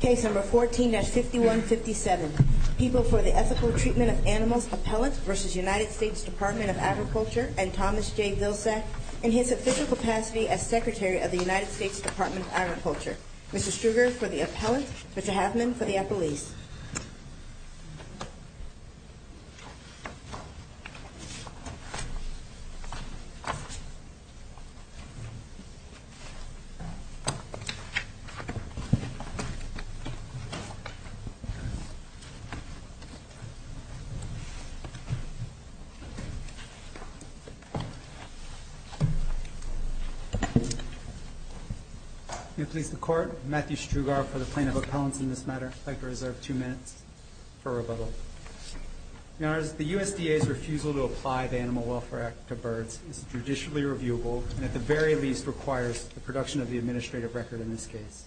Case number 14-5157, People for the Ethical Treatment of Animals, Appellants v. United States Department of Agriculture, and Thomas J. Vilsack, in his official capacity as Secretary of the United States Department of Agriculture. Mr. Struger for the Appellants, Mr. Haffman for the Appellees. May it please the Court, Matthew Struger for the Plaintiff Appellants in this matter. I'd like to reserve two minutes for rebuttal. Your Honors, the USDA's refusal to apply the Animal Welfare Act to birds is judicially reviewable and at the very least requires the production of the administrative record in this case.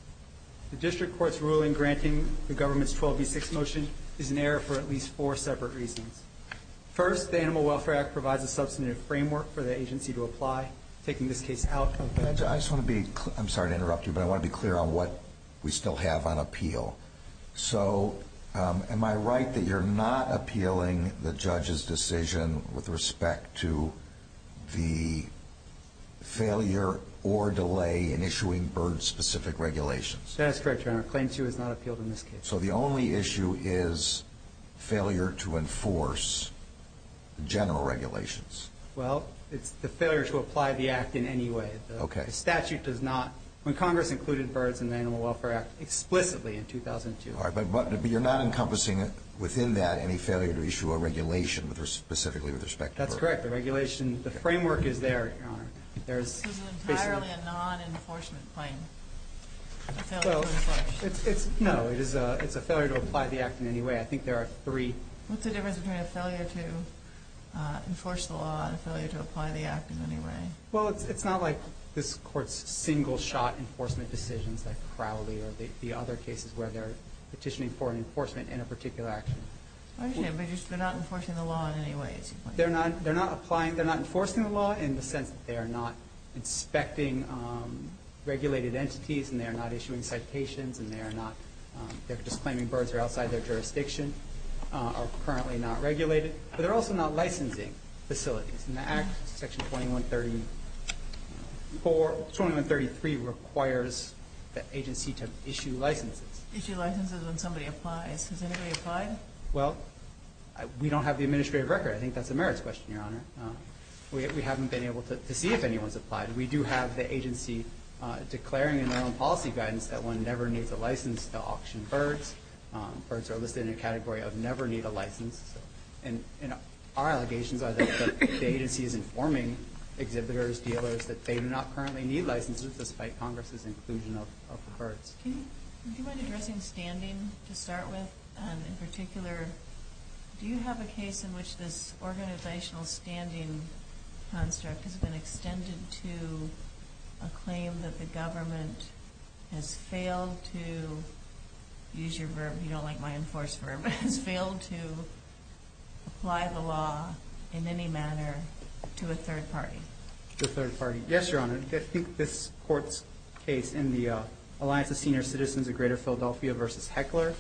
The District Court's ruling granting the government's 12B6 motion is in error for at least four separate reasons. First, the Animal Welfare Act provides a substantive framework for the agency to apply, taking this case out of the bill. I just want to be clear, I'm sorry to interrupt you, but I want to be clear on what we still have on appeal. So, am I right that you're not appealing the judge's decision with respect to the failure or delay in issuing bird-specific regulations? That is correct, Your Honor. Claim 2 is not appealed in this case. So the only issue is failure to enforce general regulations? Well, it's the failure to apply the Act in any way. Okay. The statute does not, when Congress included Birds in the Animal Welfare Act explicitly in 2002. But you're not encompassing within that any failure to issue a regulation specifically with respect to birds? That's correct. The regulation, the framework is there, Your Honor. There's basically... This is entirely a non-enforcement claim, a failure to enforce. No, it's a failure to apply the Act in any way. I think there are three. What's the difference between a failure to enforce the law and a failure to apply the Act in any way? Well, it's not like this Court's single-shot enforcement decisions like Crowley or the other cases where they're petitioning for an enforcement in a particular action. I understand, but they're not enforcing the law in any way, is your point? They're not enforcing the law in the sense that they are not inspecting regulated entities, and they are not issuing citations, and they're just claiming birds are outside their jurisdiction, are currently not regulated. But they're also not licensing facilities. And the Act, Section 2133, requires the agency to issue licenses. Issue licenses when somebody applies. Has anybody applied? Well, we don't have the administrative record. I think that's a merits question, Your Honor. We haven't been able to see if anyone's applied. We do have the agency declaring in their own policy guidance that one never needs a license to auction birds. Birds are listed in a category of never need a license. And our allegations are that the agency is informing exhibitors, dealers, that they do not currently need licenses despite Congress's inclusion of the birds. Do you mind addressing standing to start with? In particular, do you have a case in which this organizational standing construct has been extended to a claim that the government has failed to use your verb, you don't like my enforced verb, has failed to apply the law in any manner to a third party? Yes, Your Honor. I think this court's case in the Alliance of Senior Citizens of Greater Philadelphia versus Heckler,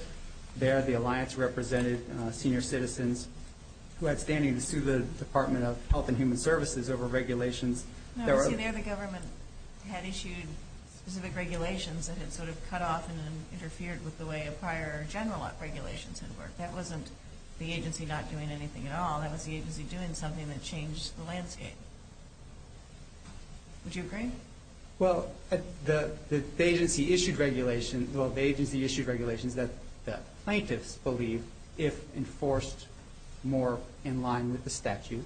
there the alliance represented senior citizens who had standing to sue the Department of Health and Human Services over regulations. No, see there the government had issued specific regulations that had sort of cut off and interfered with the way a prior general regulations had worked. That wasn't the agency not doing anything at all, that was the agency doing something that changed the landscape. Would you agree? Well, the agency issued regulations that plaintiffs believe, if enforced more in line with the statute,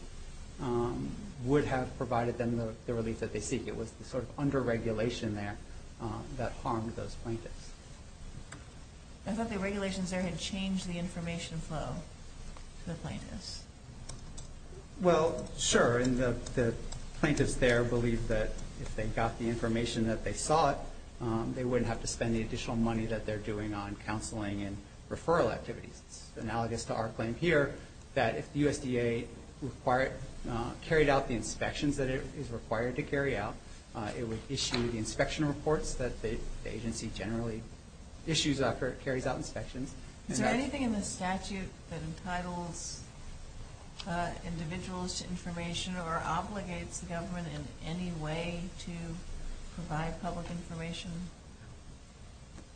would have provided them the relief that they seek. It was the sort of under regulation there that harmed those plaintiffs. I thought the regulations there had changed the information flow to the plaintiffs. Well, sure, and the plaintiffs there believe that if they got the information that they sought, they wouldn't have to spend the additional money that they're doing on counseling and referral activities. It's analogous to our claim here that if the USDA carried out the inspections that it is required to carry out, it would issue the inspection reports that the agency generally issues after it carries out inspections. Is there anything in the statute that entitles individuals to information or obligates the government in any way to provide public information?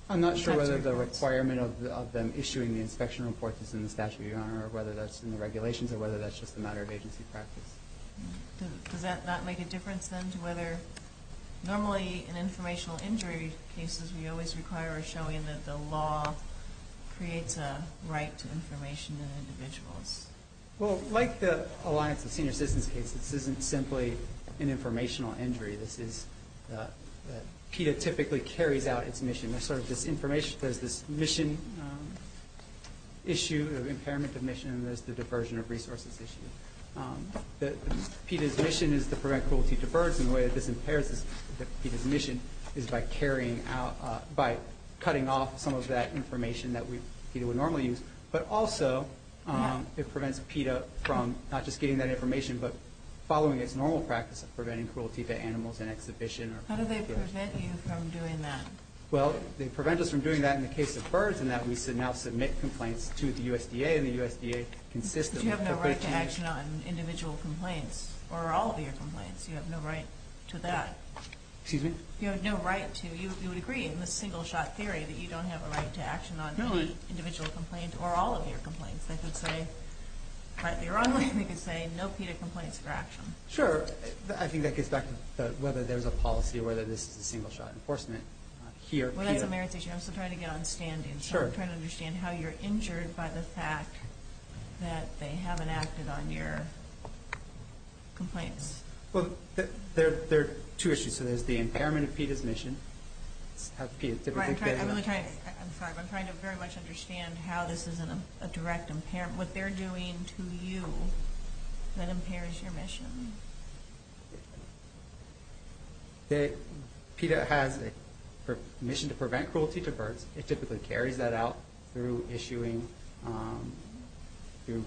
I'm not sure whether the requirement of them issuing the inspection report is in the statute, Your Honor, or whether that's in the regulations or whether that's just a matter of agency practice. Does that not make a difference, then, to whether normally in informational injury cases, we always require a showing that the law creates a right to information in individuals? Well, like the Alliance of Senior Citizens case, this isn't simply an informational injury. This is that PETA typically carries out its mission. There's sort of this information, there's this mission issue, impairment of mission, and there's the diversion of resources issue. PETA's mission is to prevent cruelty to birds, and the way that this impairs PETA's mission is by cutting off some of that information that PETA would normally use. But also, it prevents PETA from not just getting that information, but following its normal practice of preventing cruelty to animals in exhibition. How do they prevent you from doing that? Well, they prevent us from doing that in the case of birds in that we should now submit complaints to the USDA, but you have no right to action on individual complaints or all of your complaints. You have no right to that. Excuse me? You have no right to. You would agree in the single-shot theory that you don't have a right to action on individual complaints or all of your complaints. They could say, rightly or unrightly, they could say no PETA complaints for action. Sure. I think that gets back to whether there's a policy or whether this is a single-shot enforcement here. Well, that's a merits issue. I'm still trying to get on standings. Sure. I'm still trying to understand how you're injured by the fact that they haven't acted on your complaints. Well, there are two issues. So there's the impairment of PETA's mission. I'm sorry, but I'm trying to very much understand how this isn't a direct impairment, what they're doing to you that impairs your mission. PETA has a mission to prevent cruelty to birds. It typically carries that out through issuing, through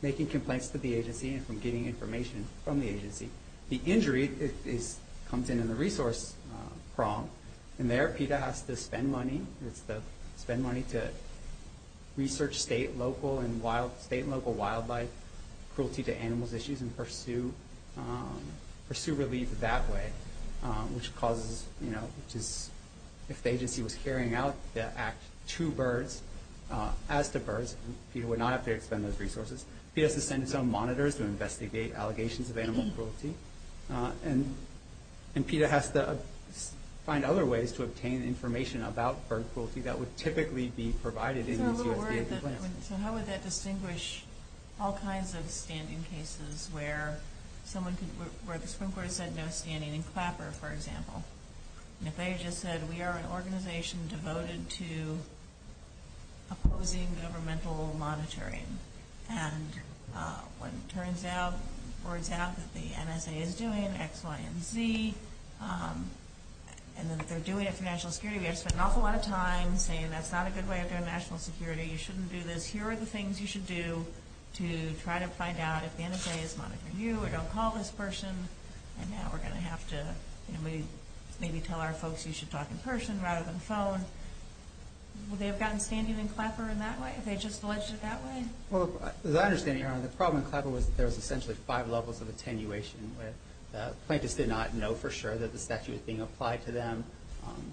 making complaints to the agency and from getting information from the agency. The injury comes in in the resource prompt, and there PETA has to spend money. It has to spend money to research state and local wildlife cruelty to animals issues and pursue relief that way, which causes, you know, if the agency was carrying out the act to birds, as to birds, PETA would not have to expend those resources. PETA has to send its own monitors to investigate allegations of animal cruelty, and PETA has to find other ways to obtain information about bird cruelty that would typically be provided in USDA complaints. So how would that distinguish all kinds of standing cases where someone could, where the Supreme Court has said no standing in Clapper, for example, and if they just said we are an organization devoted to opposing governmental monitoring and when it turns out, words out, that the NSA is doing X, Y, and Z, and that they're doing it for national security, we have to spend an awful lot of time saying that's not a good way of doing national security, you shouldn't do this, here are the things you should do to try to find out if the NSA is monitoring you, or don't call this person, and now we're going to have to, you know, maybe tell our folks you should talk in person rather than phone. Would they have gotten standing in Clapper in that way, if they just alleged it that way? Well, as I understand, Your Honor, the problem in Clapper was there was essentially five levels of attenuation where the plaintiffs did not know for sure that the statute was being applied to them.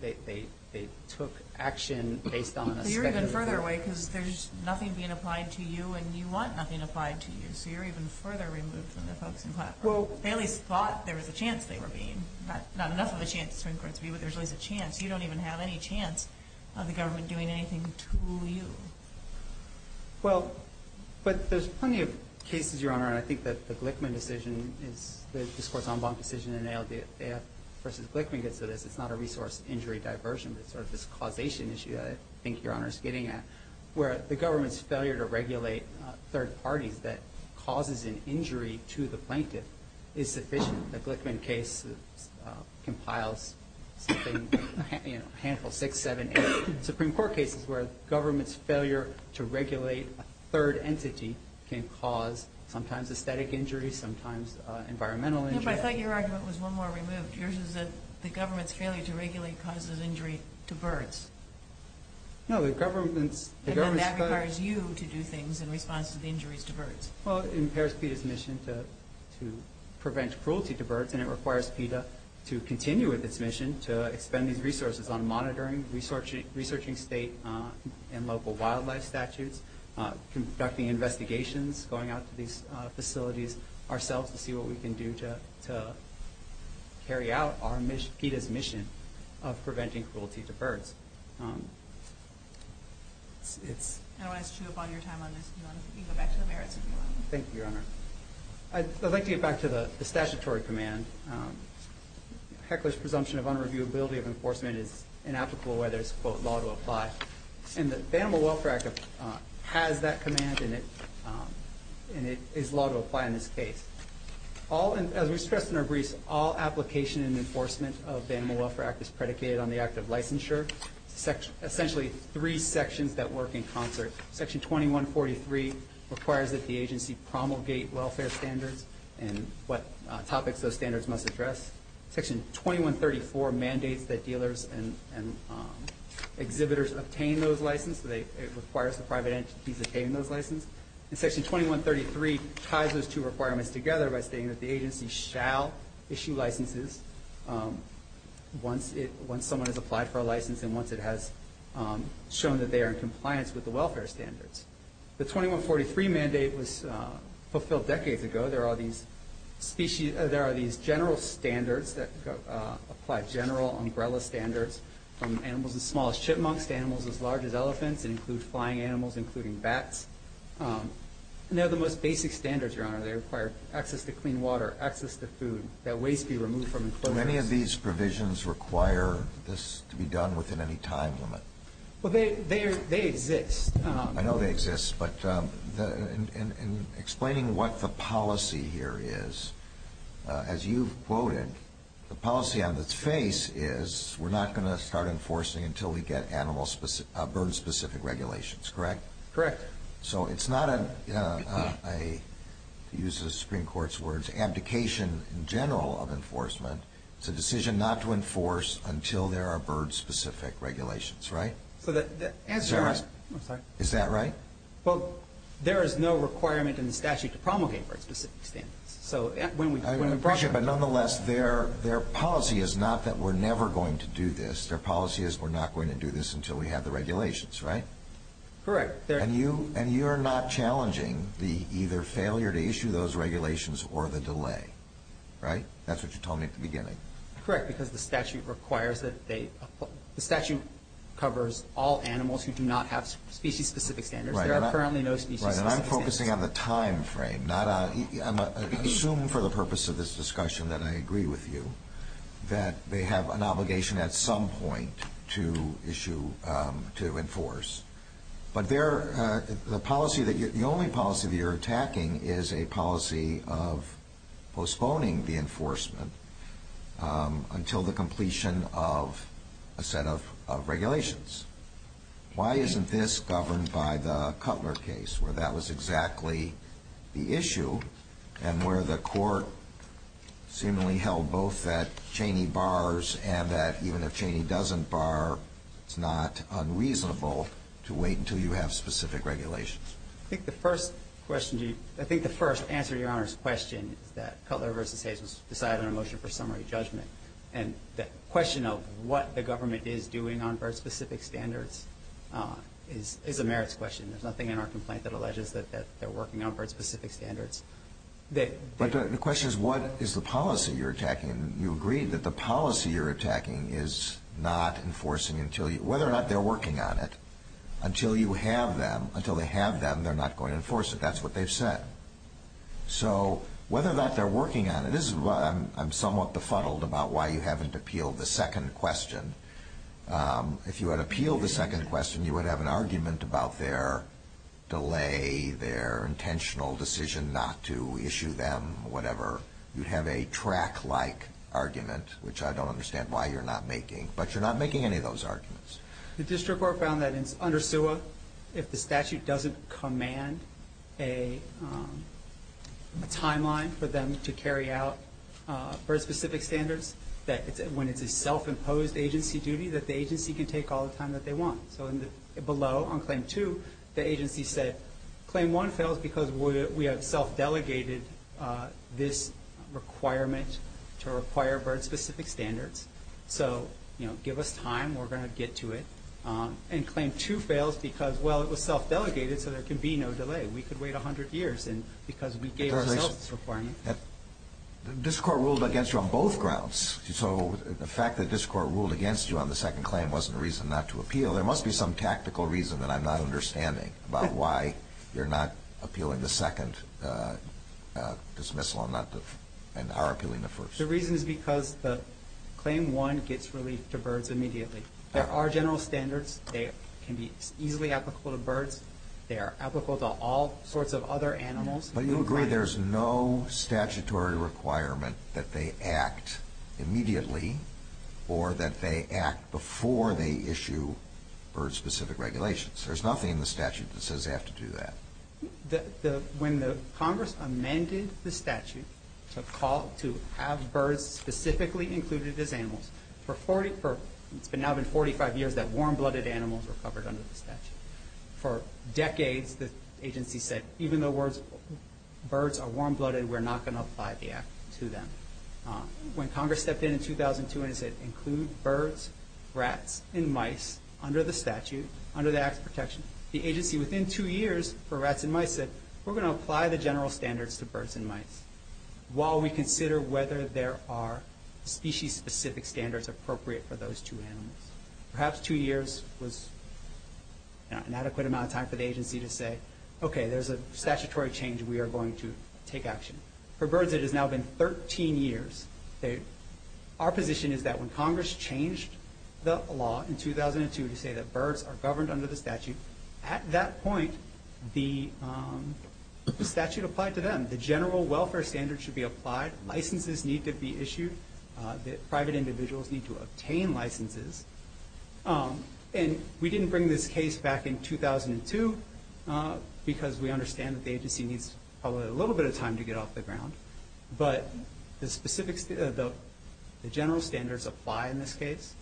They took action based on a statute. So you're even further away because there's nothing being applied to you, and you want nothing applied to you, so you're even further removed from the folks in Clapper. They at least thought there was a chance they were being, not enough of a chance, but there's always a chance. You don't even have any chance of the government doing anything to you. Well, but there's plenty of cases, Your Honor, and I think that the Glickman decision is the discourse en banc decision in ALDF versus Glickman gets to this, it's not a resource injury diversion, but it's sort of this causation issue that I think Your Honor is getting at where the government's failure to regulate third parties that causes an injury to the plaintiff is sufficient. The Glickman case compiles something, you know, a handful, six, seven, eight Supreme Court cases where government's failure to regulate a third entity can cause sometimes aesthetic injury, sometimes environmental injury. No, but I thought your argument was one more removed. Yours is that the government's failure to regulate causes injury to birds. No, the government's... And then that requires you to do things in response to the injuries to birds. Well, it impairs PETA's mission to prevent cruelty to birds, and it requires PETA to continue with its mission to expend these resources on monitoring, researching state and local wildlife statutes, conducting investigations, going out to these facilities ourselves to see what we can do to carry out PETA's mission of preventing cruelty to birds. I don't want to chew up on your time on this, Your Honor. You can go back to the merits if you want. Thank you, Your Honor. I'd like to get back to the statutory command. Heckler's presumption of unreviewability of enforcement is inapplicable whether it's, quote, law to apply. And the Animal Welfare Act has that command, and it is law to apply in this case. As we stressed in our briefs, all application and enforcement of the Animal Welfare Act is predicated on the act of licensure, essentially three sections that work in concert. Section 2143 requires that the agency promulgate welfare standards and what topics those standards must address. Section 2134 mandates that dealers and exhibitors obtain those licenses. It requires the private entities to obtain those licenses. And Section 2133 ties those two requirements together by stating that the agency shall issue licenses once someone has applied for a license and once it has shown that they are in compliance with the welfare standards. The 2143 mandate was fulfilled decades ago. There are these general standards that apply general umbrella standards from animals as small as chipmunks to animals as large as elephants and include flying animals, including bats. And they're the most basic standards, Your Honor. They require access to clean water, access to food, that waste be removed from enclosures. Do any of these provisions require this to be done within any time limit? Well, they exist. I know they exist. But in explaining what the policy here is, as you've quoted, the policy on its face is we're not going to start enforcing until we get bird-specific regulations, correct? Correct. So it's not a, to use the Supreme Court's words, abdication in general of enforcement. It's a decision not to enforce until there are bird-specific regulations, right? Is that right? Well, there is no requirement in the statute to promulgate bird-specific standards. So when we brought it up. But nonetheless, their policy is not that we're never going to do this. Their policy is we're not going to do this until we have the regulations, right? Correct. And you are not challenging the either failure to issue those regulations or the delay, right? That's what you told me at the beginning. Correct, because the statute requires that they, the statute covers all animals who do not have species-specific standards. There are currently no species-specific standards. Right, and I'm focusing on the time frame. I'm assuming for the purpose of this discussion that I agree with you that they have an obligation at some point to issue, to enforce. But the only policy that you're attacking is a policy of postponing the enforcement until the completion of a set of regulations. Why isn't this governed by the Cutler case where that was exactly the issue and where the court seemingly held both that Cheney bars and that even if Cheney doesn't bar, it's not unreasonable to wait until you have specific regulations? I think the first answer to Your Honor's question is that Cutler v. Hazen decided on a motion for summary judgment. And the question of what the government is doing on bird-specific standards is a merits question. There's nothing in our complaint that alleges that they're working on bird-specific standards. But the question is what is the policy you're attacking? And you agree that the policy you're attacking is not enforcing until you, whether or not they're working on it, until you have them, until they have them, they're not going to enforce it. That's what they've said. So whether or not they're working on it, this is why I'm somewhat befuddled about why you haven't appealed the second question. If you had appealed the second question, you would have an argument about their delay, their intentional decision not to issue them, whatever. You'd have a track-like argument, which I don't understand why you're not making. But you're not making any of those arguments. The district court found that under SUA, if the statute doesn't command a timeline for them to carry out bird-specific standards, that when it's a self-imposed agency duty, that the agency can take all the time that they want. So below, on Claim 2, the agency said, Claim 1 fails because we have self-delegated this requirement to require bird-specific standards. So, you know, give us time. We're going to get to it. And Claim 2 fails because, well, it was self-delegated, so there can be no delay. We could wait 100 years because we gave ourselves this requirement. The district court ruled against you on both grounds. So the fact that the district court ruled against you on the second claim wasn't a reason not to appeal. There must be some tactical reason that I'm not understanding about why you're not appealing the second dismissal and are appealing the first. The reason is because Claim 1 gets relief to birds immediately. There are general standards. They can be easily applicable to birds. They are applicable to all sorts of other animals. But you agree there's no statutory requirement that they act immediately or that they act before they issue bird-specific regulations. There's nothing in the statute that says they have to do that. When Congress amended the statute to have birds specifically included as animals, it's now been 45 years that warm-blooded animals were covered under the statute. For decades, the agency said, even though birds are warm-blooded, we're not going to apply the act to them. When Congress stepped in in 2002 and said, include birds, rats, and mice under the statute, under the Acts of Protection, the agency within two years for rats and mice said, we're going to apply the general standards to birds and mice while we consider whether there are species-specific standards appropriate for those two animals. Perhaps two years was an adequate amount of time for the agency to say, okay, there's a statutory change. We are going to take action. For birds, it has now been 13 years. Our position is that when Congress changed the law in 2002 to say that birds are governed under the statute, at that point, the statute applied to them. The general welfare standards should be applied. Licenses need to be issued. Private individuals need to obtain licenses. And we didn't bring this case back in 2002 because we understand that the agency needs probably a little bit of time to get off the ground. But the general standards apply in this case.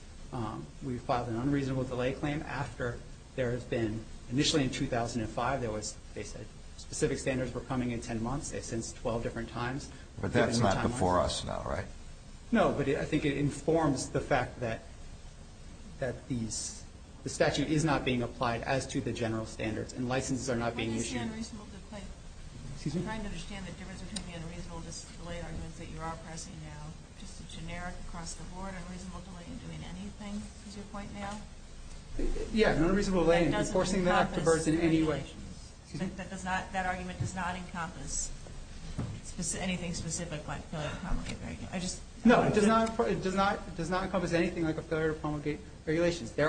We filed an unreasonable delay claim after there has been, initially in 2005, they said specific standards were coming in 10 months. They've since 12 different times. But that's not before us now, right? No, but I think it informs the fact that the statute is not being applied as to the general standards, and licenses are not being issued. I'm trying to understand the difference between the unreasonable delay arguments that you are pressing now, just a generic across-the-board unreasonable delay in doing anything, is your point now? Yeah, an unreasonable delay in enforcing the Act for birds in any way. That argument does not encompass anything specific like a failure to promulgate regulations. No, it does not encompass anything like a failure to promulgate regulations. The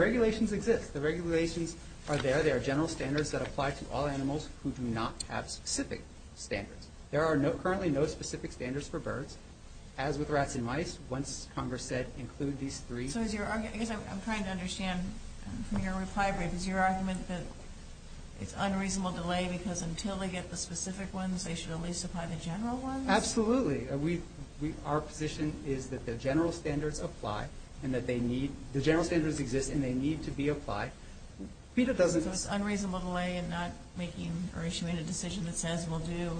regulations exist. The regulations are there. They are general standards that apply to all animals who do not have specific standards. There are currently no specific standards for birds. As with rats and mice, once Congress said include these three. So I'm trying to understand from your reply brief, is your argument that it's unreasonable delay because until they get the specific ones, they should at least apply the general ones? Absolutely. Our position is that the general standards apply. The general standards exist, and they need to be applied. It's unreasonable delay in not making or issuing a decision that says we'll do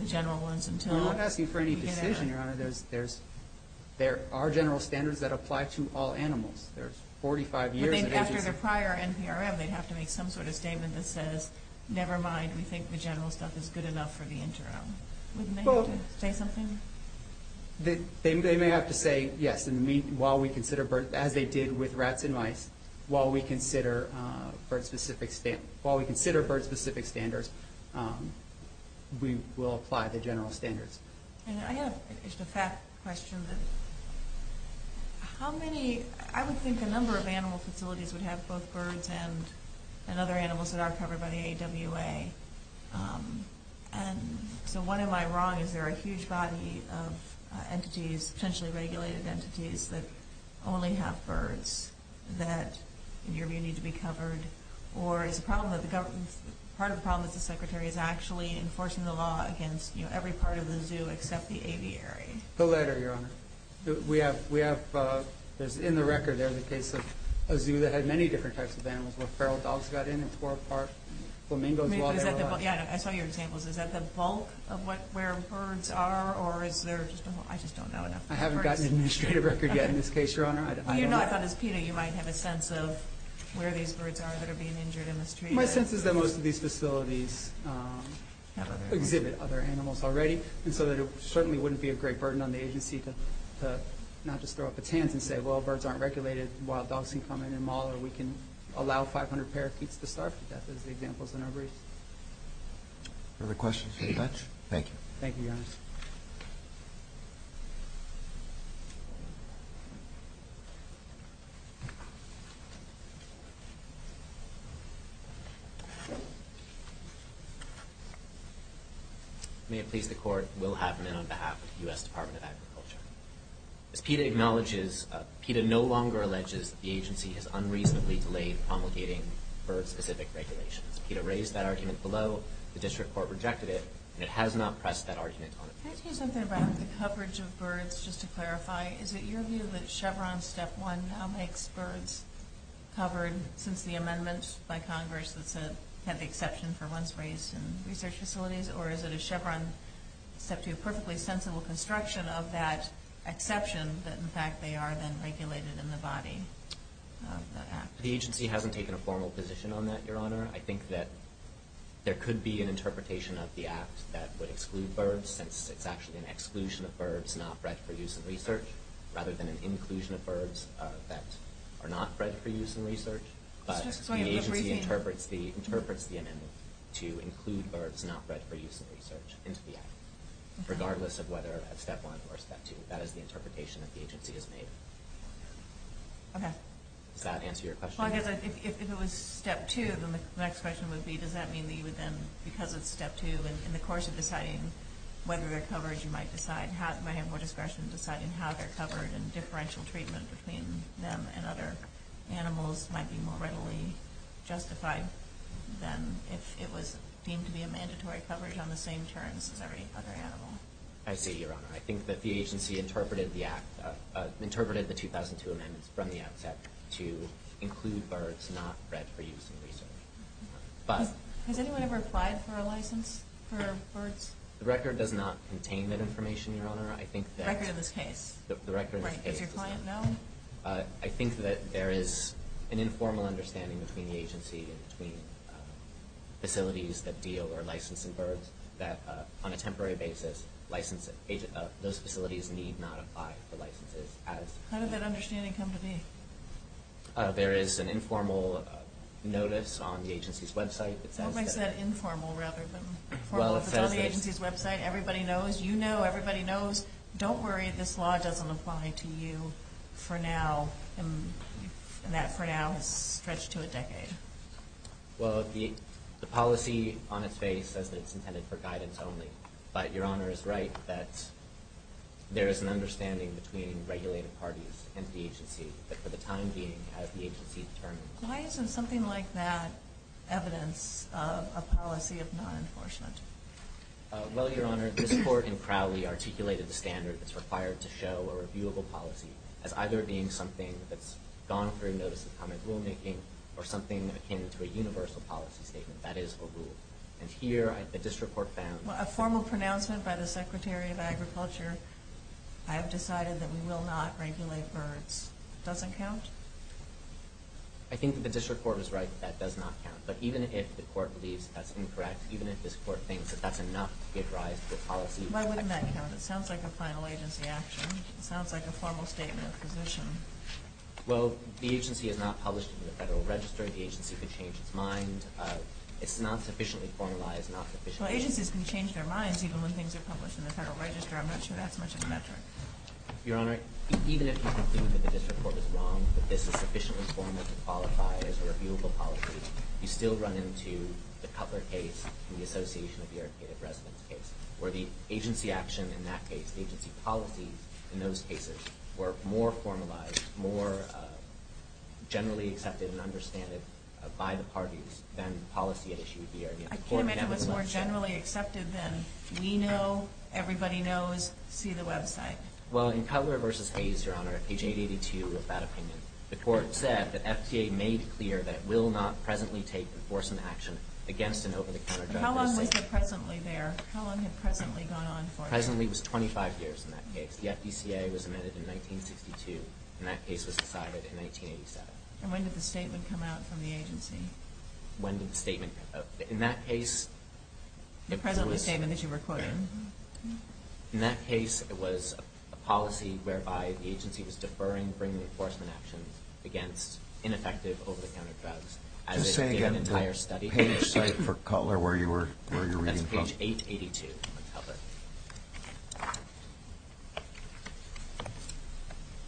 the general ones until we get out. We're not asking for any decision, Your Honor. There are general standards that apply to all animals. There's 45 years of agency. After the prior NPRM, they'd have to make some sort of statement that says, never mind, we think the general stuff is good enough for the interim. Wouldn't they have to say something? They may have to say, yes, while we consider birds, as they did with rats and mice, while we consider bird-specific standards, we will apply the general standards. I have just a fact question. How many, I would think a number of animal facilities would have both birds and other animals that are covered by the AWA. And so what am I wrong? Is there a huge body of entities, potentially regulated entities, that only have birds that in your view need to be covered? Or is part of the problem that the Secretary is actually enforcing the law against every part of the zoo except the aviary? The latter, Your Honor. We have, in the record there, the case of a zoo that had many different types of animals, where feral dogs got in and tore apart flamingos while they were alive. I saw your examples. Is that the bulk of where birds are? Or is there just one more? I just don't know enough. I haven't gotten an administrative record yet in this case, Your Honor. I don't know. I thought as PETA you might have a sense of where these birds are that are being injured in this tree. My sense is that most of these facilities exhibit other animals already, and so it certainly wouldn't be a great burden on the agency to not just throw up its hands and say, well, birds aren't regulated, wild dogs can come in and maul them, or we can allow 500 parakeets to starve to death, as the examples in our briefs. Other questions from the bench? Thank you. Thank you, Your Honor. May it please the Court, Will Haffman on behalf of the U.S. Department of Agriculture. As PETA acknowledges, PETA no longer alleges the agency has unreasonably delayed promulgating bird-specific regulations. PETA raised that argument below. The district court rejected it, and it has not pressed that argument on it. Can I tell you something about the coverage of birds, just to clarify? Is it your view that Chevron Step 1 makes birds covered since the amendment by Congress that had the exception for once raised in research facilities, or is it a Chevron Step 2 perfectly sensible construction of that exception, that in fact they are then regulated in the body of the Act? The agency hasn't taken a formal position on that, Your Honor. I think that there could be an interpretation of the Act that would exclude birds, since it's actually an exclusion of birds not bred for use in research, rather than an inclusion of birds that are not bred for use in research. The agency interprets the amendment to include birds not bred for use in research into the Act, regardless of whether it's Step 1 or Step 2. That is the interpretation that the agency has made. Does that answer your question? If it was Step 2, then the next question would be, does that mean that you would then, because it's Step 2, in the course of deciding whether they're covered, you might have more discretion in deciding how they're covered, and differential treatment between them and other animals might be more readily justified than if it was deemed to be a mandatory coverage on the same terms as every other animal? I see, Your Honor. I think that the agency interpreted the 2002 amendments from the outset to include birds not bred for use in research. Has anyone ever applied for a license for birds? The record does not contain that information, Your Honor. The record of this case? The record of this case does not. Does your client know? I think that there is an informal understanding between the agency and between facilities that deal or licensing birds that, on a temporary basis, those facilities need not apply for licenses. How did that understanding come to be? There is an informal notice on the agency's website. What makes that informal rather than formal? It's on the agency's website. Everybody knows. You know. Everybody knows. Don't worry if this law doesn't apply to you for now, and that for now has stretched to a decade. Well, the policy on its face says that it's intended for guidance only, but Your Honor is right that there is an understanding between regulated parties and the agency, but for the time being, as the agency determines. Why isn't something like that evidence of a policy of non-enforcement? Well, Your Honor, this Court in Crowley articulated the standard that's required to show a reviewable policy as either being something that's gone through notice of common rulemaking or something akin to a universal policy statement. That is a rule. And here the District Court found that. A formal pronouncement by the Secretary of Agriculture, I have decided that we will not regulate birds. It doesn't count? I think that the District Court was right that that does not count. But even if the Court believes that that's incorrect, even if this Court thinks that that's enough to give rise to the policy. Why wouldn't that count? It sounds like a final agency action. It sounds like a formal statement of position. Well, the agency is not published in the Federal Register. The agency can change its mind. It's not sufficiently formalized. Well, agencies can change their minds even when things are published in the Federal Register. I'm not sure that's much of a metric. Your Honor, even if you conclude that the District Court is wrong, that this is sufficiently formal to qualify as a reviewable policy, you still run into the Cutler case and the Association of the Irrigated Residents case, where the agency action in that case, the agency policies in those cases were more formalized, more generally accepted and understanded by the parties than the policy at issue would be. I can't imagine what's more generally accepted than we know, everybody knows, see the website. Well, in Cutler v. Hayes, Your Honor, page 882 of that opinion, the Court said that FDCA made clear that it will not presently take enforcement action against an over-the-counter driver. How long was the presently there? How long had presently gone on for? Presently was 25 years in that case. The FDCA was amended in 1962, and that case was decided in 1987. And when did the statement come out from the agency? When did the statement come out? In that case, it was... The presently statement that you were quoting. In that case, it was a policy whereby the agency was deferring bringing enforcement actions against ineffective over-the-counter drugs. Just say again, the page site for Cutler where you were reading from? That's page 882 of Cutler.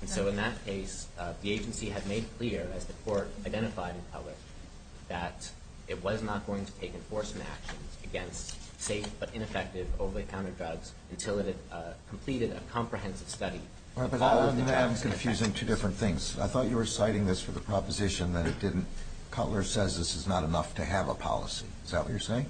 And so in that case, the agency had made clear, as the Court identified in Cutler, that it was not going to take enforcement actions against safe but ineffective over-the-counter drugs until it had completed a comprehensive study. All right, but I'm confusing two different things. I thought you were citing this for the proposition that it didn't... Cutler says this is not enough to have a policy. Is that what you're saying?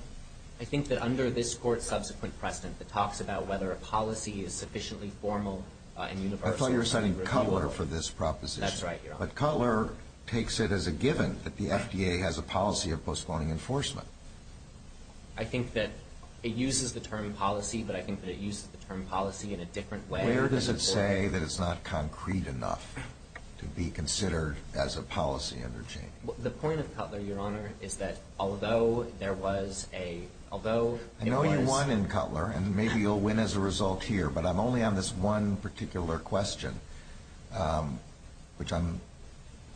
I think that under this Court's subsequent precedent, it talks about whether a policy is sufficiently formal and universally repealable. I thought you were citing Cutler for this proposition. That's right, Your Honor. But Cutler takes it as a given that the FDA has a policy of postponing enforcement. I think that it uses the term policy, but I think that it uses the term policy in a different way. Where does it say that it's not concrete enough to be considered as a policy under change? The point of Cutler, Your Honor, is that although there was a... I know you won in Cutler, and maybe you'll win as a result here, but I'm only on this one particular question, which I'm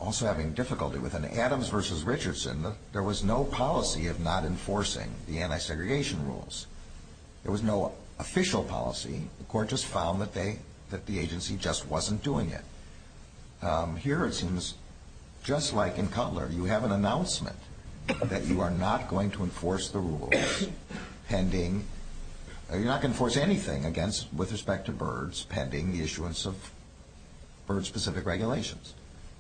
also having difficulty with. In Adams v. Richardson, there was no policy of not enforcing the anti-segregation rules. There was no official policy. The Court just found that the agency just wasn't doing it. Here it seems just like in Cutler. You have an announcement that you are not going to enforce the rules pending... You're not going to enforce anything with respect to birds pending the issuance of bird-specific regulations.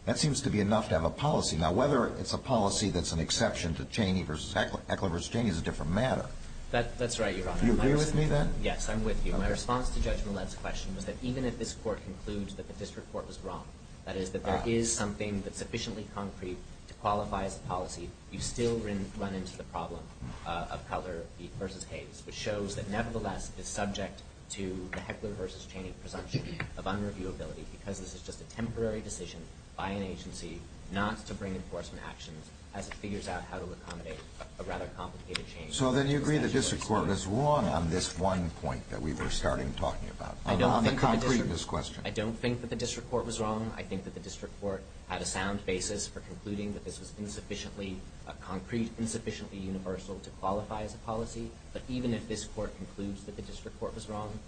That seems to be enough to have a policy. Now, whether it's a policy that's an exception to Cheney v. Heckler, Heckler v. Cheney is a different matter. That's right, Your Honor. Do you agree with me then? Yes, I'm with you. My response to Judge Millett's question was that even if this Court concludes that the district court was wrong, that is, that there is something that's sufficiently concrete to qualify as a policy, you still run into the problem of Cutler v. Hayes, which shows that nevertheless it's subject to the Heckler v. Cheney presumption of unreviewability because this is just a temporary decision by an agency not to bring enforcement actions as it figures out how to accommodate a rather complicated change. So then you agree the district court was wrong on this one point that we were starting talking about, on the concreteness question. I don't think that the district court was wrong. I think that the district court had a sound basis for concluding that this was insufficiently concrete, insufficiently universal to qualify as a policy. But even if this Court concludes that the district court was wrong,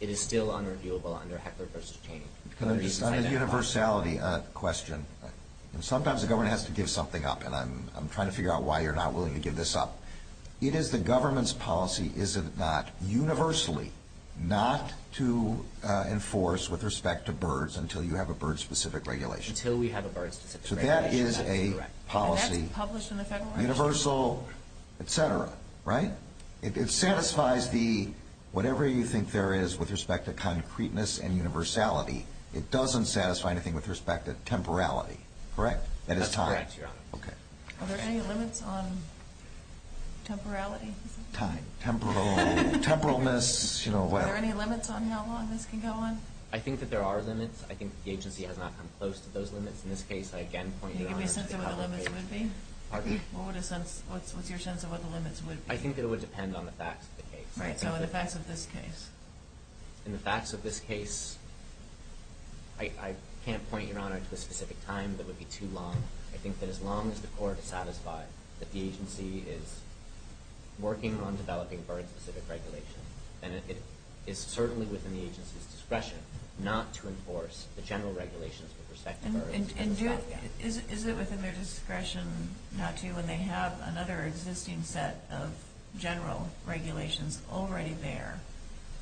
it is still unreviewable under Heckler v. Cheney. Can I just add a universality question? Sometimes the government has to give something up, and I'm trying to figure out why you're not willing to give this up. It is the government's policy, is it not, universally not to enforce with respect to birds until you have a bird-specific regulation. Until we have a bird-specific regulation. So that is a policy. And that's published in the Federal Register. Universal, et cetera, right? It satisfies the whatever you think there is with respect to concreteness and universality. It doesn't satisfy anything with respect to temporality. That is time. That's correct, Your Honor. Are there any limits on temporality? Time. Temporal. Temporalness. Are there any limits on how long this can go on? I think that there are limits. I think that the agency has not come close to those limits. In this case, I again point you to our agency. Can you give me a sense of what the limits would be? Pardon? What's your sense of what the limits would be? I think it would depend on the facts of the case. Right. So the facts of this case. And the facts of this case, I can't point, Your Honor, to a specific time that would be too long. I think that as long as the court is satisfied that the agency is working on developing bird-specific regulation, then it is certainly within the agency's discretion not to enforce the general regulations with respect to birds. And is it within their discretion not to when they have another existing set of general regulations already there,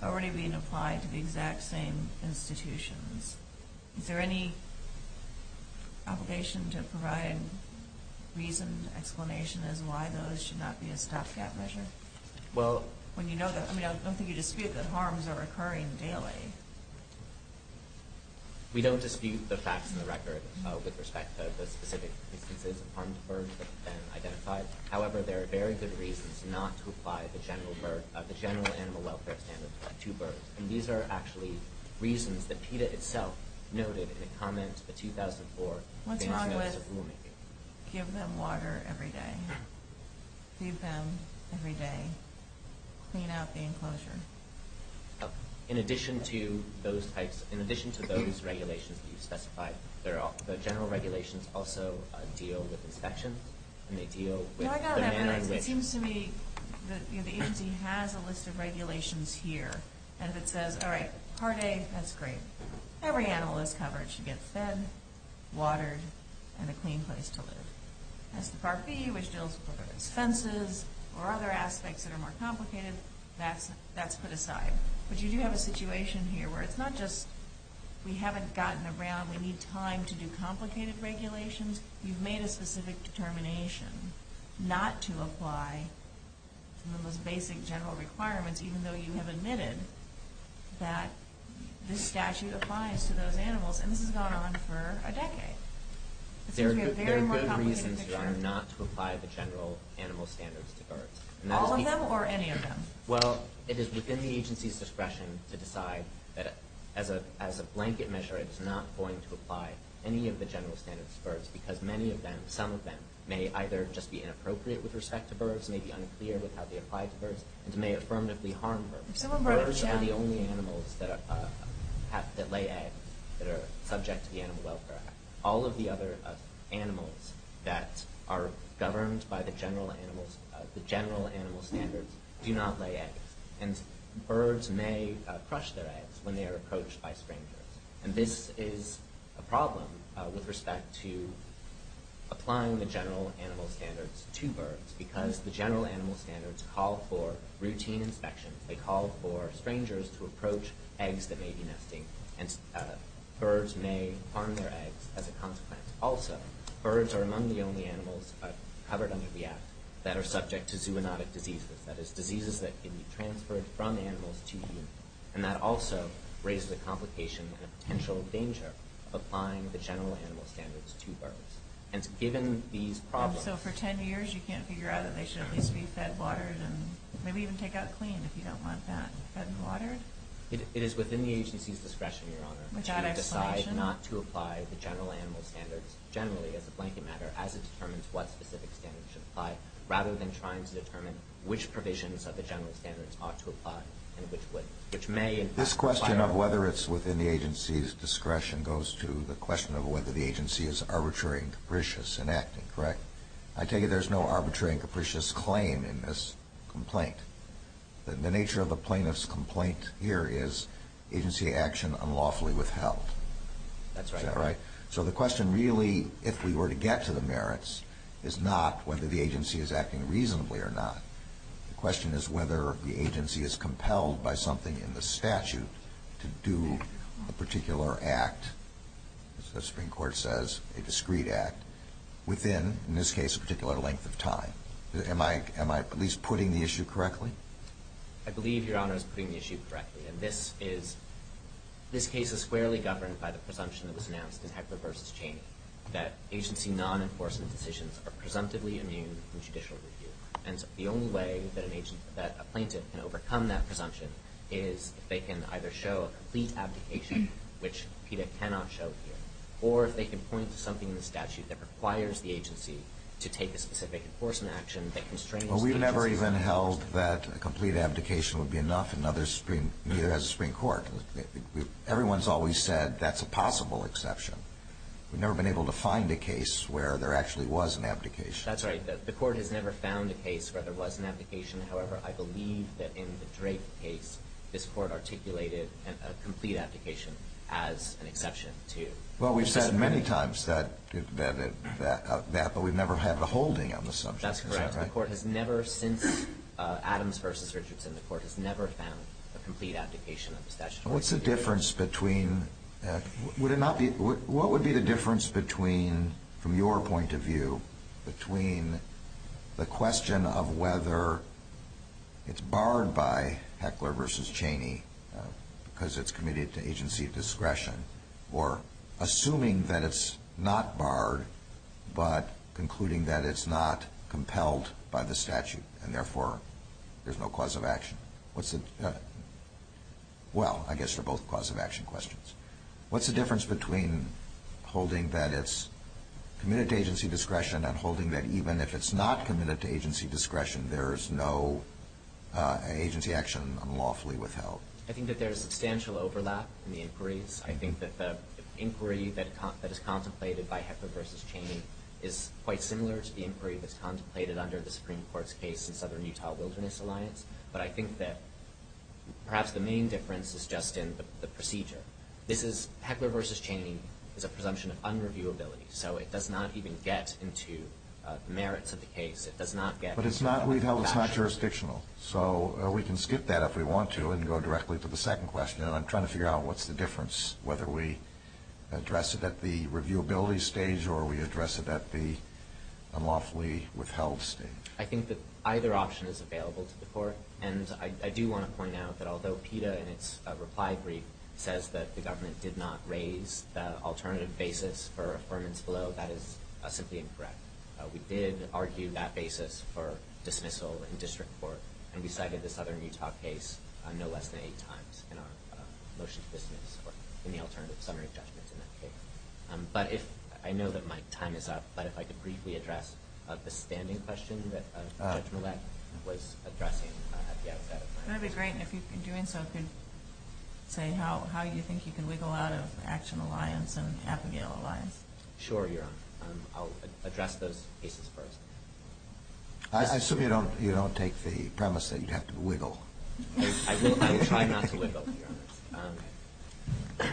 already being applied to the exact same institutions? Is there any obligation to provide reason, explanation as to why those should not be a stopgap measure? Well – When you know that – I mean, I don't think you dispute that harms are occurring daily. We don't dispute the facts in the record with respect to the specific instances of harmed birds that have been identified. However, there are very good reasons not to apply the general animal welfare standards to birds, and these are actually reasons that PETA itself noted in a comment in 2004. What's wrong with give them water every day, feed them every day, clean out the enclosure? In addition to those types – in addition to those regulations that you specified, the general regulations also deal with inspections, and they deal with the manner in which – No, I got that. But it seems to me that the agency has a list of regulations here, and if it says, all right, part A, that's great. Every animal is covered. It should get fed, watered, and a clean place to live. As to part B, which deals with expenses or other aspects that are more complicated, that's put aside. But you do have a situation here where it's not just we haven't gotten around, we need time to do complicated regulations. You've made a specific determination not to apply the most basic general requirements, even though you have admitted that this statute applies to those animals, and this has gone on for a decade. It seems to me a very more complicated picture. There are good reasons, Your Honor, not to apply the general animal standards to birds. All of them or any of them? Well, it is within the agency's discretion to decide that as a blanket measure it's not going to apply any of the general standards to birds because many of them, some of them, may either just be inappropriate with respect to birds, may be unclear with how they apply to birds, and may affirmatively harm birds. Birds are the only animals that lay eggs that are subject to the Animal Welfare Act. All of the other animals that are governed by the general animal standards do not lay eggs, and birds may crush their eggs when they are approached by strangers. And this is a problem with respect to applying the general animal standards to birds because the general animal standards call for routine inspections. They call for strangers to approach eggs that may be nesting, and birds may harm their eggs as a consequence. Also, birds are among the only animals covered under the Act that are subject to zoonotic diseases, that is, diseases that can be transferred from animals to you, and that also raises a complication and a potential danger of applying the general animal standards to birds. And so given these problems... And so for 10 years you can't figure out that they should at least be fed, watered, and maybe even take out clean if you don't want that fed and watered? It is within the agency's discretion, Your Honor, to decide not to apply the general animal standards generally as a blanket matter as it determines what specific standards should apply, rather than trying to determine which provisions of the general standards ought to apply and which wouldn't, which may in fact... This question of whether it's within the agency's discretion goes to the question of whether the agency is arbitrary and capricious in acting, correct? I take it there's no arbitrary and capricious claim in this complaint. The nature of the plaintiff's complaint here is agency action unlawfully withheld. That's right. Is that right? So the question really, if we were to get to the merits, is not whether the agency is acting reasonably or not. The question is whether the agency is compelled by something in the statute to do a particular act, as the Supreme Court says, a discreet act, within, in this case, a particular length of time. Am I at least putting the issue correctly? I believe, Your Honor, I was putting the issue correctly. And this case is squarely governed by the presumption that was announced in Heckler v. Chaney that agency non-enforcement decisions are presumptively immune from judicial review. And the only way that a plaintiff can overcome that presumption is if they can either show a complete abdication, which PETA cannot show here, or if they can point to something in the statute that requires the agency to take a specific enforcement action that constrains the agency. Well, we never even held that a complete abdication would be enough, and neither has the Supreme Court. Everyone's always said that's a possible exception. We've never been able to find a case where there actually was an abdication. That's right. The Court has never found a case where there was an abdication. However, I believe that in the Drake case, this Court articulated a complete abdication as an exception to the Supreme Court. Well, we've said many times that, but we've never had the holding on the subject. That's correct. The Court has never, since Adams v. Richardson, the Court has never found a complete abdication of the statute. What's the difference between, would it not be, what would be the difference between, from your point of view, between the question of whether it's barred by Heckler v. Chaney because it's committed to agency discretion, or assuming that it's not barred, but concluding that it's not compelled by the statute, and therefore there's no cause of action? What's the, well, I guess they're both cause of action questions. What's the difference between holding that it's committed to agency discretion and holding that even if it's not committed to agency discretion, there's no agency action unlawfully withheld? I think that there's substantial overlap in the inquiries. I think that the inquiry that is contemplated by Heckler v. Chaney is quite similar to the inquiry that's contemplated under the Supreme Court's case in Southern Utah Wilderness Alliance, but I think that perhaps the main difference is just in the procedure. This is, Heckler v. Chaney is a presumption of unreviewability, so it does not even get into the merits of the case. It does not get into the statute. But it's not, it's not jurisdictional, so we can skip that if we want to and go directly to the second question, and I'm trying to figure out what's the difference, whether we address it at the reviewability stage or we address it at the unlawfully withheld stage. I think that either option is available to the Court, and I do want to point out that although PETA in its reply brief says that the government did not raise the alternative basis for affirmance below, that is simply incorrect. We did argue that basis for dismissal in district court, and we cited the Southern Utah case no less than eight times in our motion to dismiss or in the alternative summary of judgments in that case. But if, I know that my time is up, but if I could briefly address the standing question that Judge Millett was addressing at the outset. That would be great, and if you're doing so, could say how you think you can wiggle out of Action Alliance and Appagale Alliance. Sure, Your Honor. I'll address those cases first. I assume you don't take the premise that you'd have to wiggle. I will try not to wiggle, Your Honor.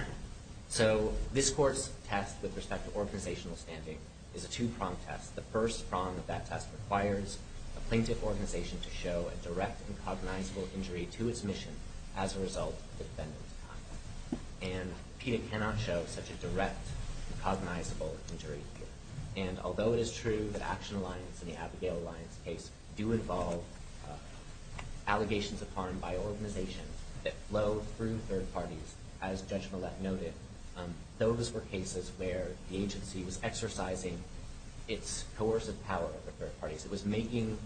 So this Court's test with respect to organizational standing is a two-prong test. The first prong of that test requires a plaintiff organization to show a direct and cognizable injury to its mission as a result of the defendant's conduct. And PETA cannot show such a direct and cognizable injury. And although it is true that Action Alliance and the Appagale Alliance case do involve allegations of harm by organizations that flow through third parties, as Judge Millett noted, those were cases where the agency was exercising its coercive power over third parties. It was making,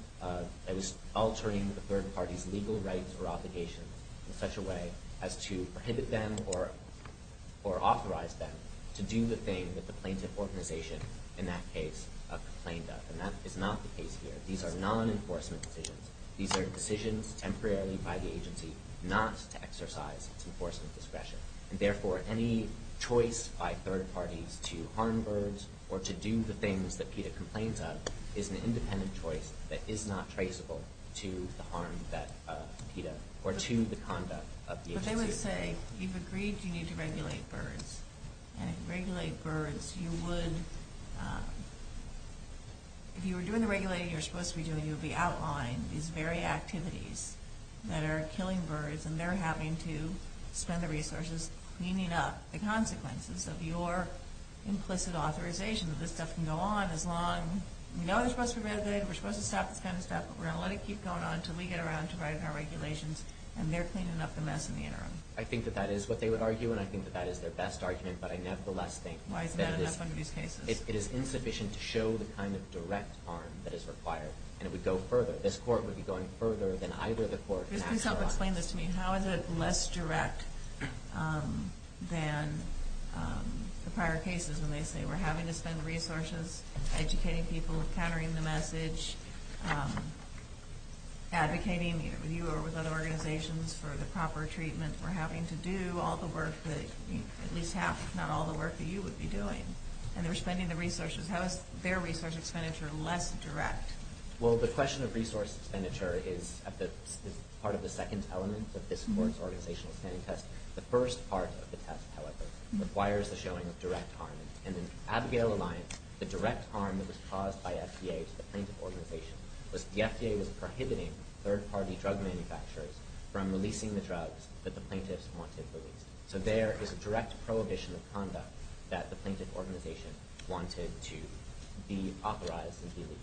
it was altering the third party's legal rights or obligations in such a way as to prohibit them or authorize them to do the thing that the plaintiff organization in that case complained of. And that is not the case here. These are non-enforcement decisions. These are decisions temporarily by the agency not to exercise its enforcement discretion. And therefore, any choice by third parties to harm birds or to do the things that PETA complains of is an independent choice that is not traceable to the harm that PETA or to the conduct of the agency. But they would say, you've agreed you need to regulate birds. And if you regulate birds, you would, if you were doing the regulating you're supposed to be doing, you would be outlining these very activities that are killing birds and they're having to spend the resources cleaning up the consequences of your implicit authorization that this stuff can go on as long, we know they're supposed to be regulated, we're supposed to stop this kind of stuff, we're going to let it keep going on until we get around to writing our regulations and they're cleaning up the mess in the interim. I think that that is what they would argue and I think that that is their best argument, but I nevertheless think that it is insufficient to show the kind of direct harm that is required. And it would go further. This court would be going further than either the court in actuality. Just please help explain this to me. How is it less direct than the prior cases when they say we're having to spend resources, educating people, countering the message, advocating with you or with other organizations for the proper treatment we're having to do all the work that at least half, if not all the work that you would be doing. And they're spending the resources. How is their resource expenditure less direct? Well, the question of resource expenditure is part of the second element of this court's organizational planning test. The first part of the test, however, requires the showing of direct harm. And in Abigail Alliance, the direct harm that was caused by FDA to the plaintiff organization was the FDA was prohibiting third-party drug manufacturers from releasing the drugs that the plaintiffs wanted released. So there is a direct prohibition of conduct that the plaintiff organization wanted to be authorized and be legal.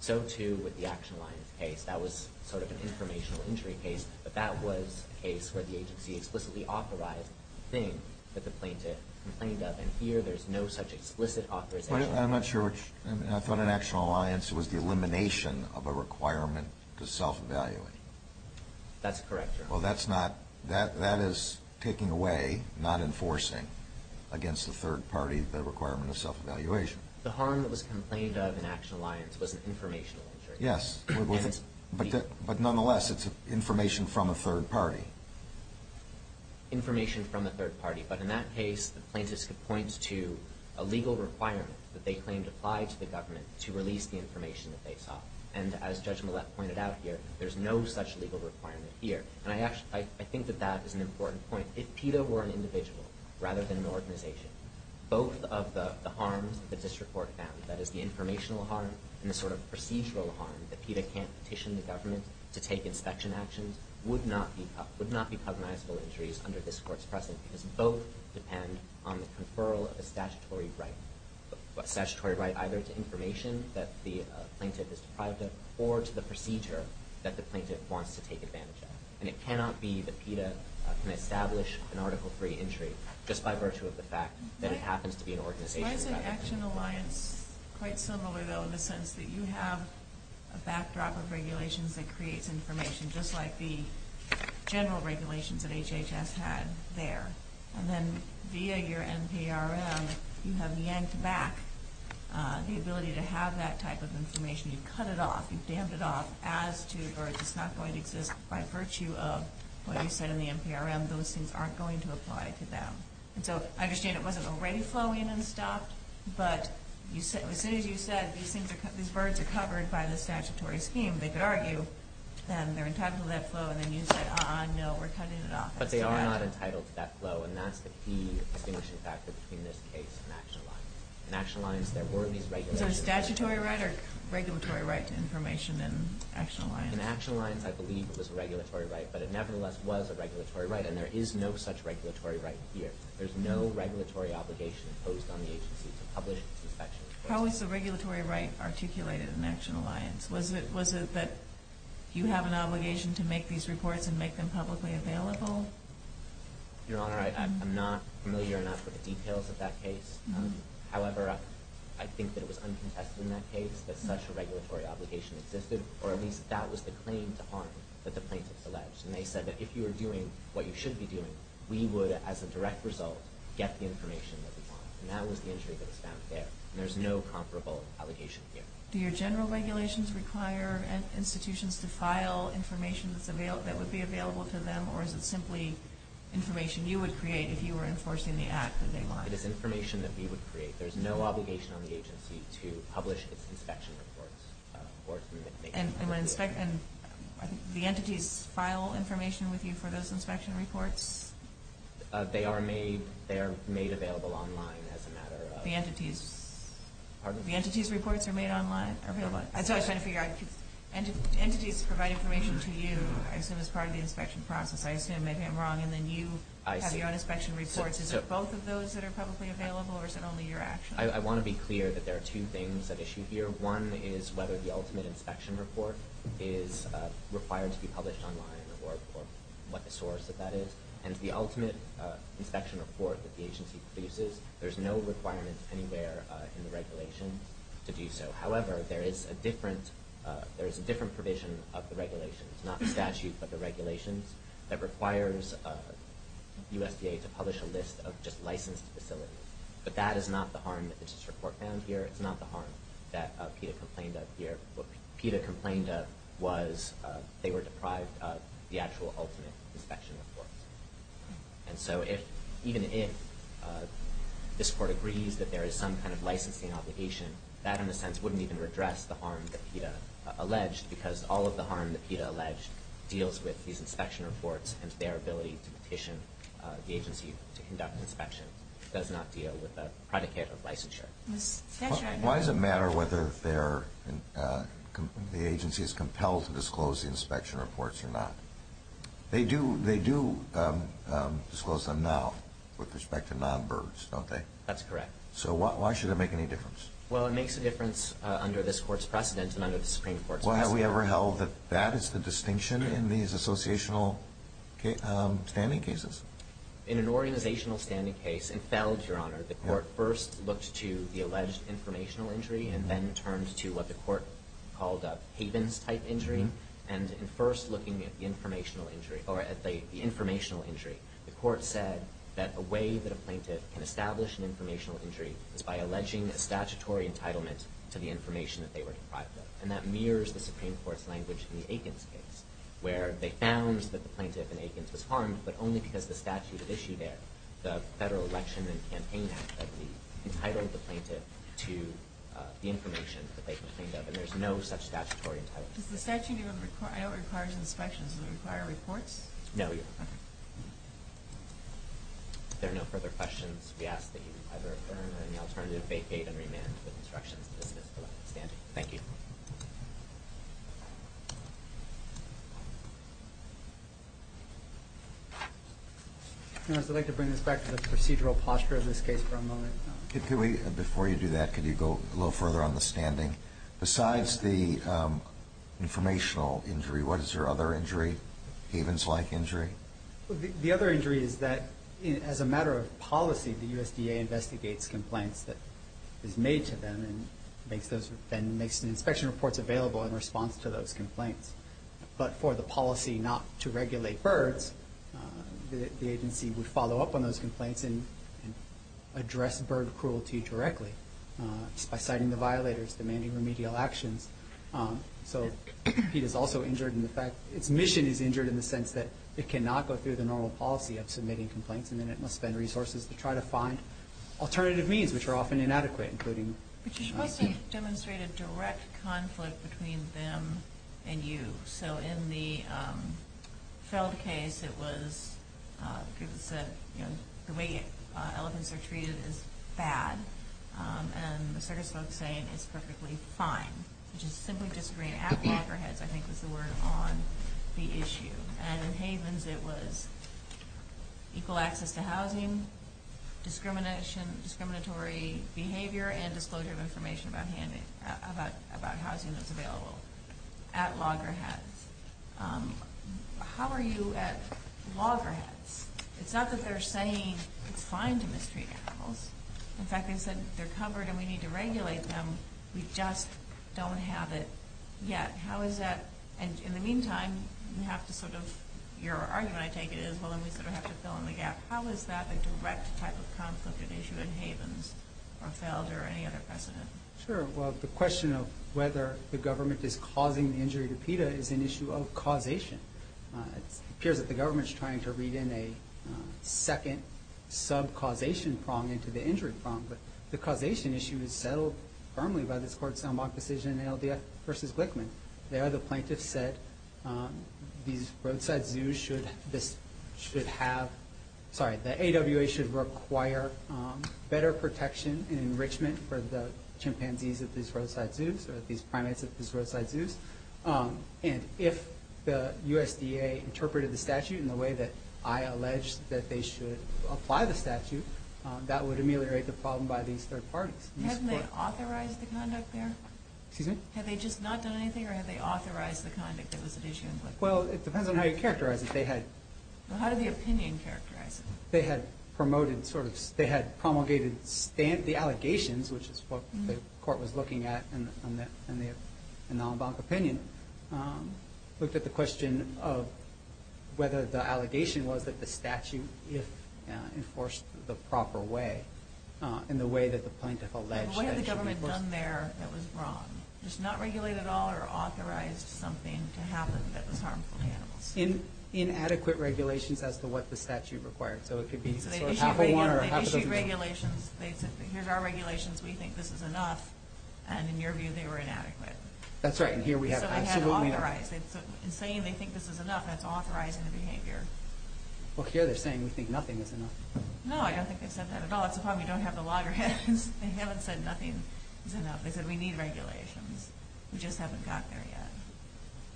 So too with the Action Alliance case. That was sort of an informational injury case, but that was a case where the agency explicitly authorized the thing that the plaintiff complained of, and here there's no such explicit authorization. I'm not sure. I thought in Action Alliance it was the elimination of a requirement to self-evaluate. That's correct, Your Honor. Well, that is taking away, not enforcing against the third party the requirement of self-evaluation. The harm that was complained of in Action Alliance was an informational injury. Yes, but nonetheless, it's information from a third party. Information from a third party. But in that case, the plaintiffs could point to a legal requirement that they claimed applied to the government to release the information that they sought. And as Judge Millett pointed out here, there's no such legal requirement here. And I think that that is an important point. If PETA were an individual rather than an organization, both of the harms that this report found, that is the informational harm and the sort of procedural harm that PETA can't petition the government to take inspection actions, would not be cognizable injuries under this court's precedent because both depend on the conferral of a statutory right, a statutory right either to information that the plaintiff is deprived of or to the procedure that the plaintiff wants to take advantage of. And it cannot be that PETA can establish an article-free injury just by virtue of the fact that it happens to be an organization. Why is the Action Alliance quite similar, though, in the sense that you have a backdrop of regulations that creates information just like the general regulations that HHS had there? And then via your NPRM, you have yanked back the ability to have that type of information. You've cut it off. You've dammed it off as to, or it's not going to exist by virtue of what you said in the NPRM. Those things aren't going to apply to them. And so I understand it wasn't already flowing and stopped, but as soon as you said these birds are covered by the statutory scheme, they could argue that they're entitled to that flow, and then you said, uh-uh, no, we're cutting it off as to that. But they are not entitled to that flow, and that's the key distinguishing factor between this case and Action Alliance. In Action Alliance, there were these regulations. Is there a statutory right or regulatory right to information in Action Alliance? In Action Alliance, I believe it was a regulatory right, but it nevertheless was a regulatory right, and there is no such regulatory right here. There's no regulatory obligation imposed on the agency to publish the inspection report. How is the regulatory right articulated in Action Alliance? Was it that you have an obligation to make these reports and make them publicly available? Your Honor, I'm not familiar enough with the details of that case. However, I think that it was uncontested in that case that such a regulatory obligation existed, or at least that was the claim to honor that the plaintiffs alleged. And they said that if you were doing what you should be doing, we would, as a direct result, get the information that we want. And that was the entry that was found there, and there's no comparable allegation here. Do your general regulations require institutions to file information that would be available to them, or is it simply information you would create if you were enforcing the act that they want? It is information that we would create. There's no obligation on the agency to publish its inspection reports or to make them public. And the entities file information with you for those inspection reports? They are made available online, as a matter of fact. The entities' reports are made online? And so I was trying to figure out, entities provide information to you, I assume, as part of the inspection process. I assume maybe I'm wrong, and then you have your own inspection reports. Is it both of those that are publicly available, or is it only your actions? I want to be clear that there are two things at issue here. One is whether the ultimate inspection report is required to be published online or what the source of that is. And the ultimate inspection report that the agency produces, there's no requirement anywhere in the regulations to do so. However, there is a different provision of the regulations, not the statute, but the regulations, that requires USDA to publish a list of just licensed facilities. But that is not the harm that this report found here. It's not the harm that PETA complained of here. What PETA complained of was they were deprived of the actual ultimate inspection reports. And so even if this Court agrees that there is some kind of licensing obligation, that in a sense wouldn't even redress the harm that PETA alleged, because all of the harm that PETA alleged deals with these inspection reports and their ability to petition the agency to conduct an inspection. It does not deal with the predicate of licensure. Why does it matter whether the agency is compelled to disclose the inspection reports or not? They do disclose them now with respect to non-BIRGs, don't they? That's correct. So why should it make any difference? Well, it makes a difference under this Court's precedent and under the Supreme Court's precedent. Well, have we ever held that that is the distinction in these associational standing cases? In an organizational standing case in Feld, Your Honor, the Court first looked to the alleged informational injury and then turned to what the Court called a Havens-type injury. And in first looking at the informational injury, the Court said that a way that a plaintiff can establish an informational injury is by alleging a statutory entitlement to the information that they were deprived of. And that mirrors the Supreme Court's language in the Aikens case, where they found that the plaintiff in Aikens was harmed, but only because the statute issued there, the Federal Election and Campaign Act, that we entitled the plaintiff to the information that they complained of. And there's no such statutory entitlement. Does the statute even require inspections? Does it require reports? No, Your Honor. If there are no further questions, we ask that you either affirm or, in the alternative, vacate and remand with instructions Thank you. Your Honor, I'd like to bring this back to the procedural posture of this case for a moment. Before you do that, could you go a little further on the standing? Besides the informational injury, what is your other injury, Havens-like injury? The other injury is that, as a matter of policy, the USDA investigates complaints that is made to them and makes inspection reports available in response to those complaints. But for the policy not to regulate birds, the agency would follow up on those complaints and address bird cruelty directly, just by citing the violators, demanding remedial actions. So PETA is also injured in the fact, its mission is injured in the sense that it cannot go through the normal policy of submitting complaints, and then it must spend resources to try to find alternative means, which are often inadequate, including... But you're supposed to demonstrate a direct conflict between them and you. So in the Feld case, it was said the way elephants are treated is bad, and the circus folks say it's perfectly fine, which is simply disagreeing at walker heads, I think was the word, on the issue. And in Havens, it was equal access to housing, discriminatory behavior, and disclosure of information about housing that's available at loggerheads. How are you at loggerheads? It's not that they're saying it's fine to mistreat animals. In fact, they said they're covered and we need to regulate them. We just don't have it yet. In the meantime, your argument, I take it, is we have to fill in the gap. How is that a direct type of conflict at issue in Havens or Feld or any other precedent? The question of whether the government is causing the injury to PETA is an issue of causation. It appears that the government is trying to read in a second sub-causation prong into the injury prong. But the causation issue is settled firmly by this Court's en bloc decision in ALDF v. Glickman. There, the plaintiffs said these roadside zoos should have, sorry, the AWA should require better protection and enrichment for the chimpanzees at these roadside zoos or these primates at these roadside zoos. And if the USDA interpreted the statute in the way that I allege that they should apply the statute, that would ameliorate the problem by these third parties. Hadn't they authorized the conduct there? Excuse me? Had they just not done anything or had they authorized the conduct that was at issue in Glickman? Well, it depends on how you characterize it. How did the opinion characterize it? They had promulgated the allegations, which is what the Court was looking at in the Alambanca opinion. Looked at the question of whether the allegation was that the statute, if enforced the proper way, in the way that the plaintiff alleged that it should be enforced. But what had the government done there that was wrong? Just not regulate at all or authorized something to happen that was harmful to animals? Inadequate regulations as to what the statute required. So it could be sort of half a one or half a dozen. They issued regulations. They said, here's our regulations. We think this is enough. And in your view, they were inadequate. That's right. And here we have absolutely no... So they had to authorize. In saying they think this is enough, that's authorizing the behavior. Well, here they're saying we think nothing is enough. No, I don't think they said that at all. That's the problem. You don't have the loggerheads. They haven't said nothing is enough. They said we need regulations. We just haven't got there yet.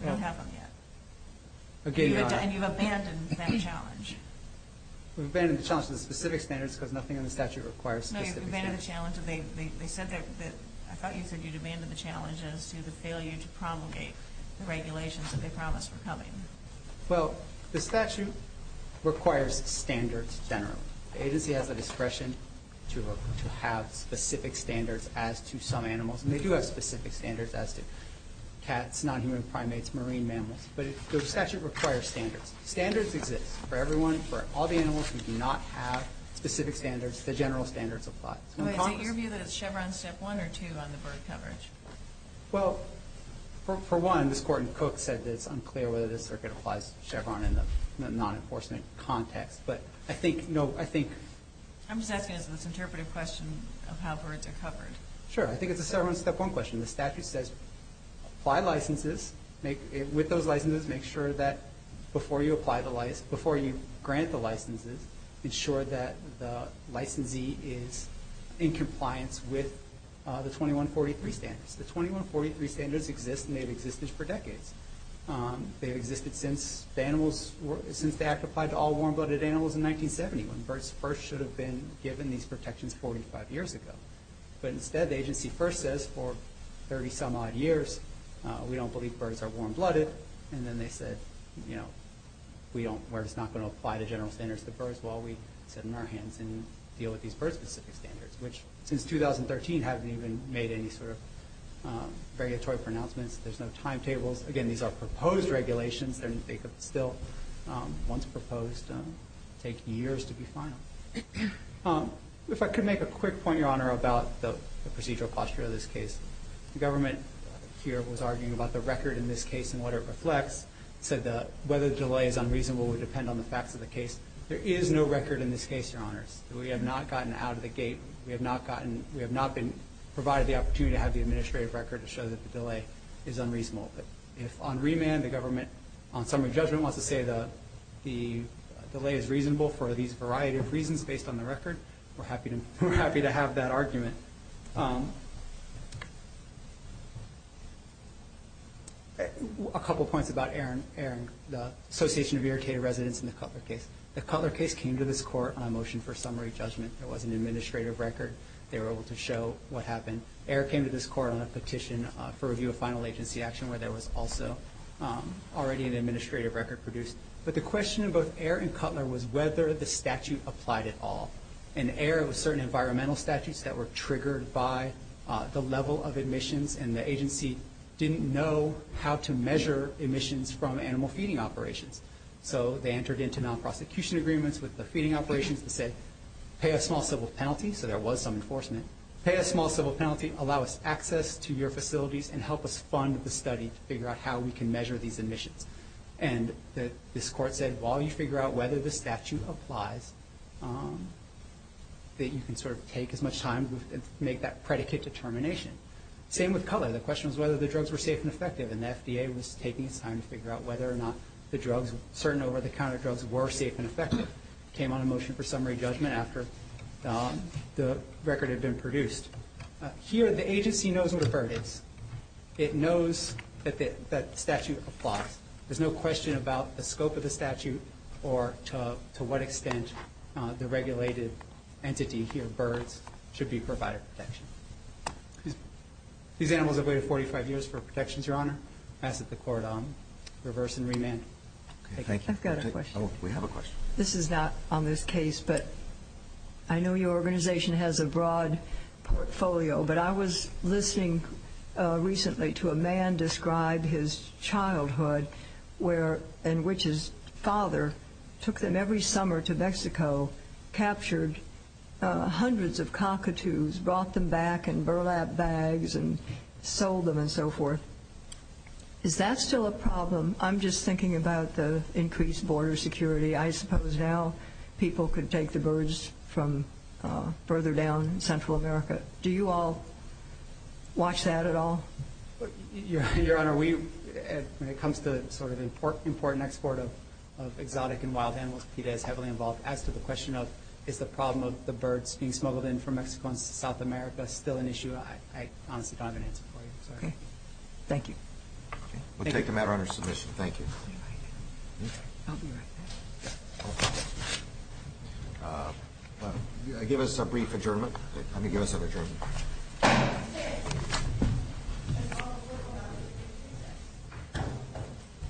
We don't have them yet. And you've abandoned that challenge. We've abandoned the challenge to the specific standards because nothing in the statute requires specific standards. No, you've abandoned the challenge. I thought you said you've abandoned the challenge as to the failure to promulgate the regulations that they promised were coming. Well, the statute requires standards generally. The agency has the discretion to have specific standards as to some animals. And they do have specific standards as to cats, non-human primates, marine mammals. But the statute requires standards. Standards exist for everyone. For all the animals who do not have specific standards, the general standards apply. Is it your view that it's Chevron step one or two on the bird coverage? Well, for one, this Court in Cook said that it's unclear whether this circuit applies to Chevron in the non-enforcement context. But I think, no, I think. I'm just asking as an interpretive question of how birds are covered. Sure. I think it's a Chevron step one question. The statute says apply licenses. With those licenses, make sure that before you apply the license, before you grant the licenses, ensure that the licensee is in compliance with the 2143 standards. The 2143 standards exist, and they've existed for decades. They've existed since the animals, since the Act applied to all warm-blooded animals in 1970, when birds first should have been given these protections 45 years ago. But instead, the agency first says for 30-some-odd years, we don't believe birds are warm-blooded, and then they said, you know, we're just not going to apply the general standards to birds while we sit on our hands and deal with these bird-specific standards, which since 2013 haven't even made any sort of regulatory pronouncements. There's no timetables. Again, these are proposed regulations. They could still, once proposed, take years to be final. If I could make a quick point, Your Honor, about the procedural posture of this case. The government here was arguing about the record in this case and what it reflects, said that whether the delay is unreasonable would depend on the facts of the case. There is no record in this case, Your Honors. We have not gotten out of the gate. We have not been provided the opportunity to have the administrative record to show that the delay is unreasonable. But if on remand the government, on summary judgment, wants to say the delay is reasonable for these variety of reasons based on the record, we're happy to have that argument. A couple points about Aaron, the association of irritated residents in the Cutler case. The Cutler case came to this court on a motion for summary judgment. There was an administrative record. They were able to show what happened. Ayer came to this court on a petition for review of final agency action where there was also already an administrative record produced. But the question of both Ayer and Cutler was whether the statute applied at all. In Ayer, it was certain environmental statutes that were triggered by the level of admissions, and the agency didn't know how to measure emissions from animal feeding operations. So they entered into non-prosecution agreements with the feeding operations that said, pay a small civil penalty, so there was some enforcement. Pay a small civil penalty, allow us access to your facilities, and help us fund the study to figure out how we can measure these admissions. And this court said, while you figure out whether the statute applies, that you can sort of take as much time to make that predicate determination. Same with Cutler. The question was whether the drugs were safe and effective, and the FDA was taking its time to figure out whether or not the drugs, certain over-the-counter drugs, were safe and effective. The court came on a motion for summary judgment after the record had been produced. Here, the agency knows what a bird is. It knows that the statute applies. There's no question about the scope of the statute or to what extent the regulated entity here, birds, should be provided protection. These animals have waited 45 years for protections, Your Honor. I ask that the court reverse and remand. I've got a question. We have a question. This is not on this case, but I know your organization has a broad portfolio, but I was listening recently to a man describe his childhood in which his father took them every summer to Mexico, captured hundreds of cockatoos, brought them back in burlap bags, and sold them and so forth. Is that still a problem? I'm just thinking about the increased border security. I suppose now people could take the birds from further down Central America. Do you all watch that at all? Your Honor, when it comes to sort of important export of exotic and wild animals, PETA is heavily involved. As to the question of is the problem of the birds being smuggled in from Mexico and South America still an issue, I honestly don't have an answer for you. Thank you. We'll take the matter under submission. Thank you. Give us a brief adjournment. Let me give us an adjournment.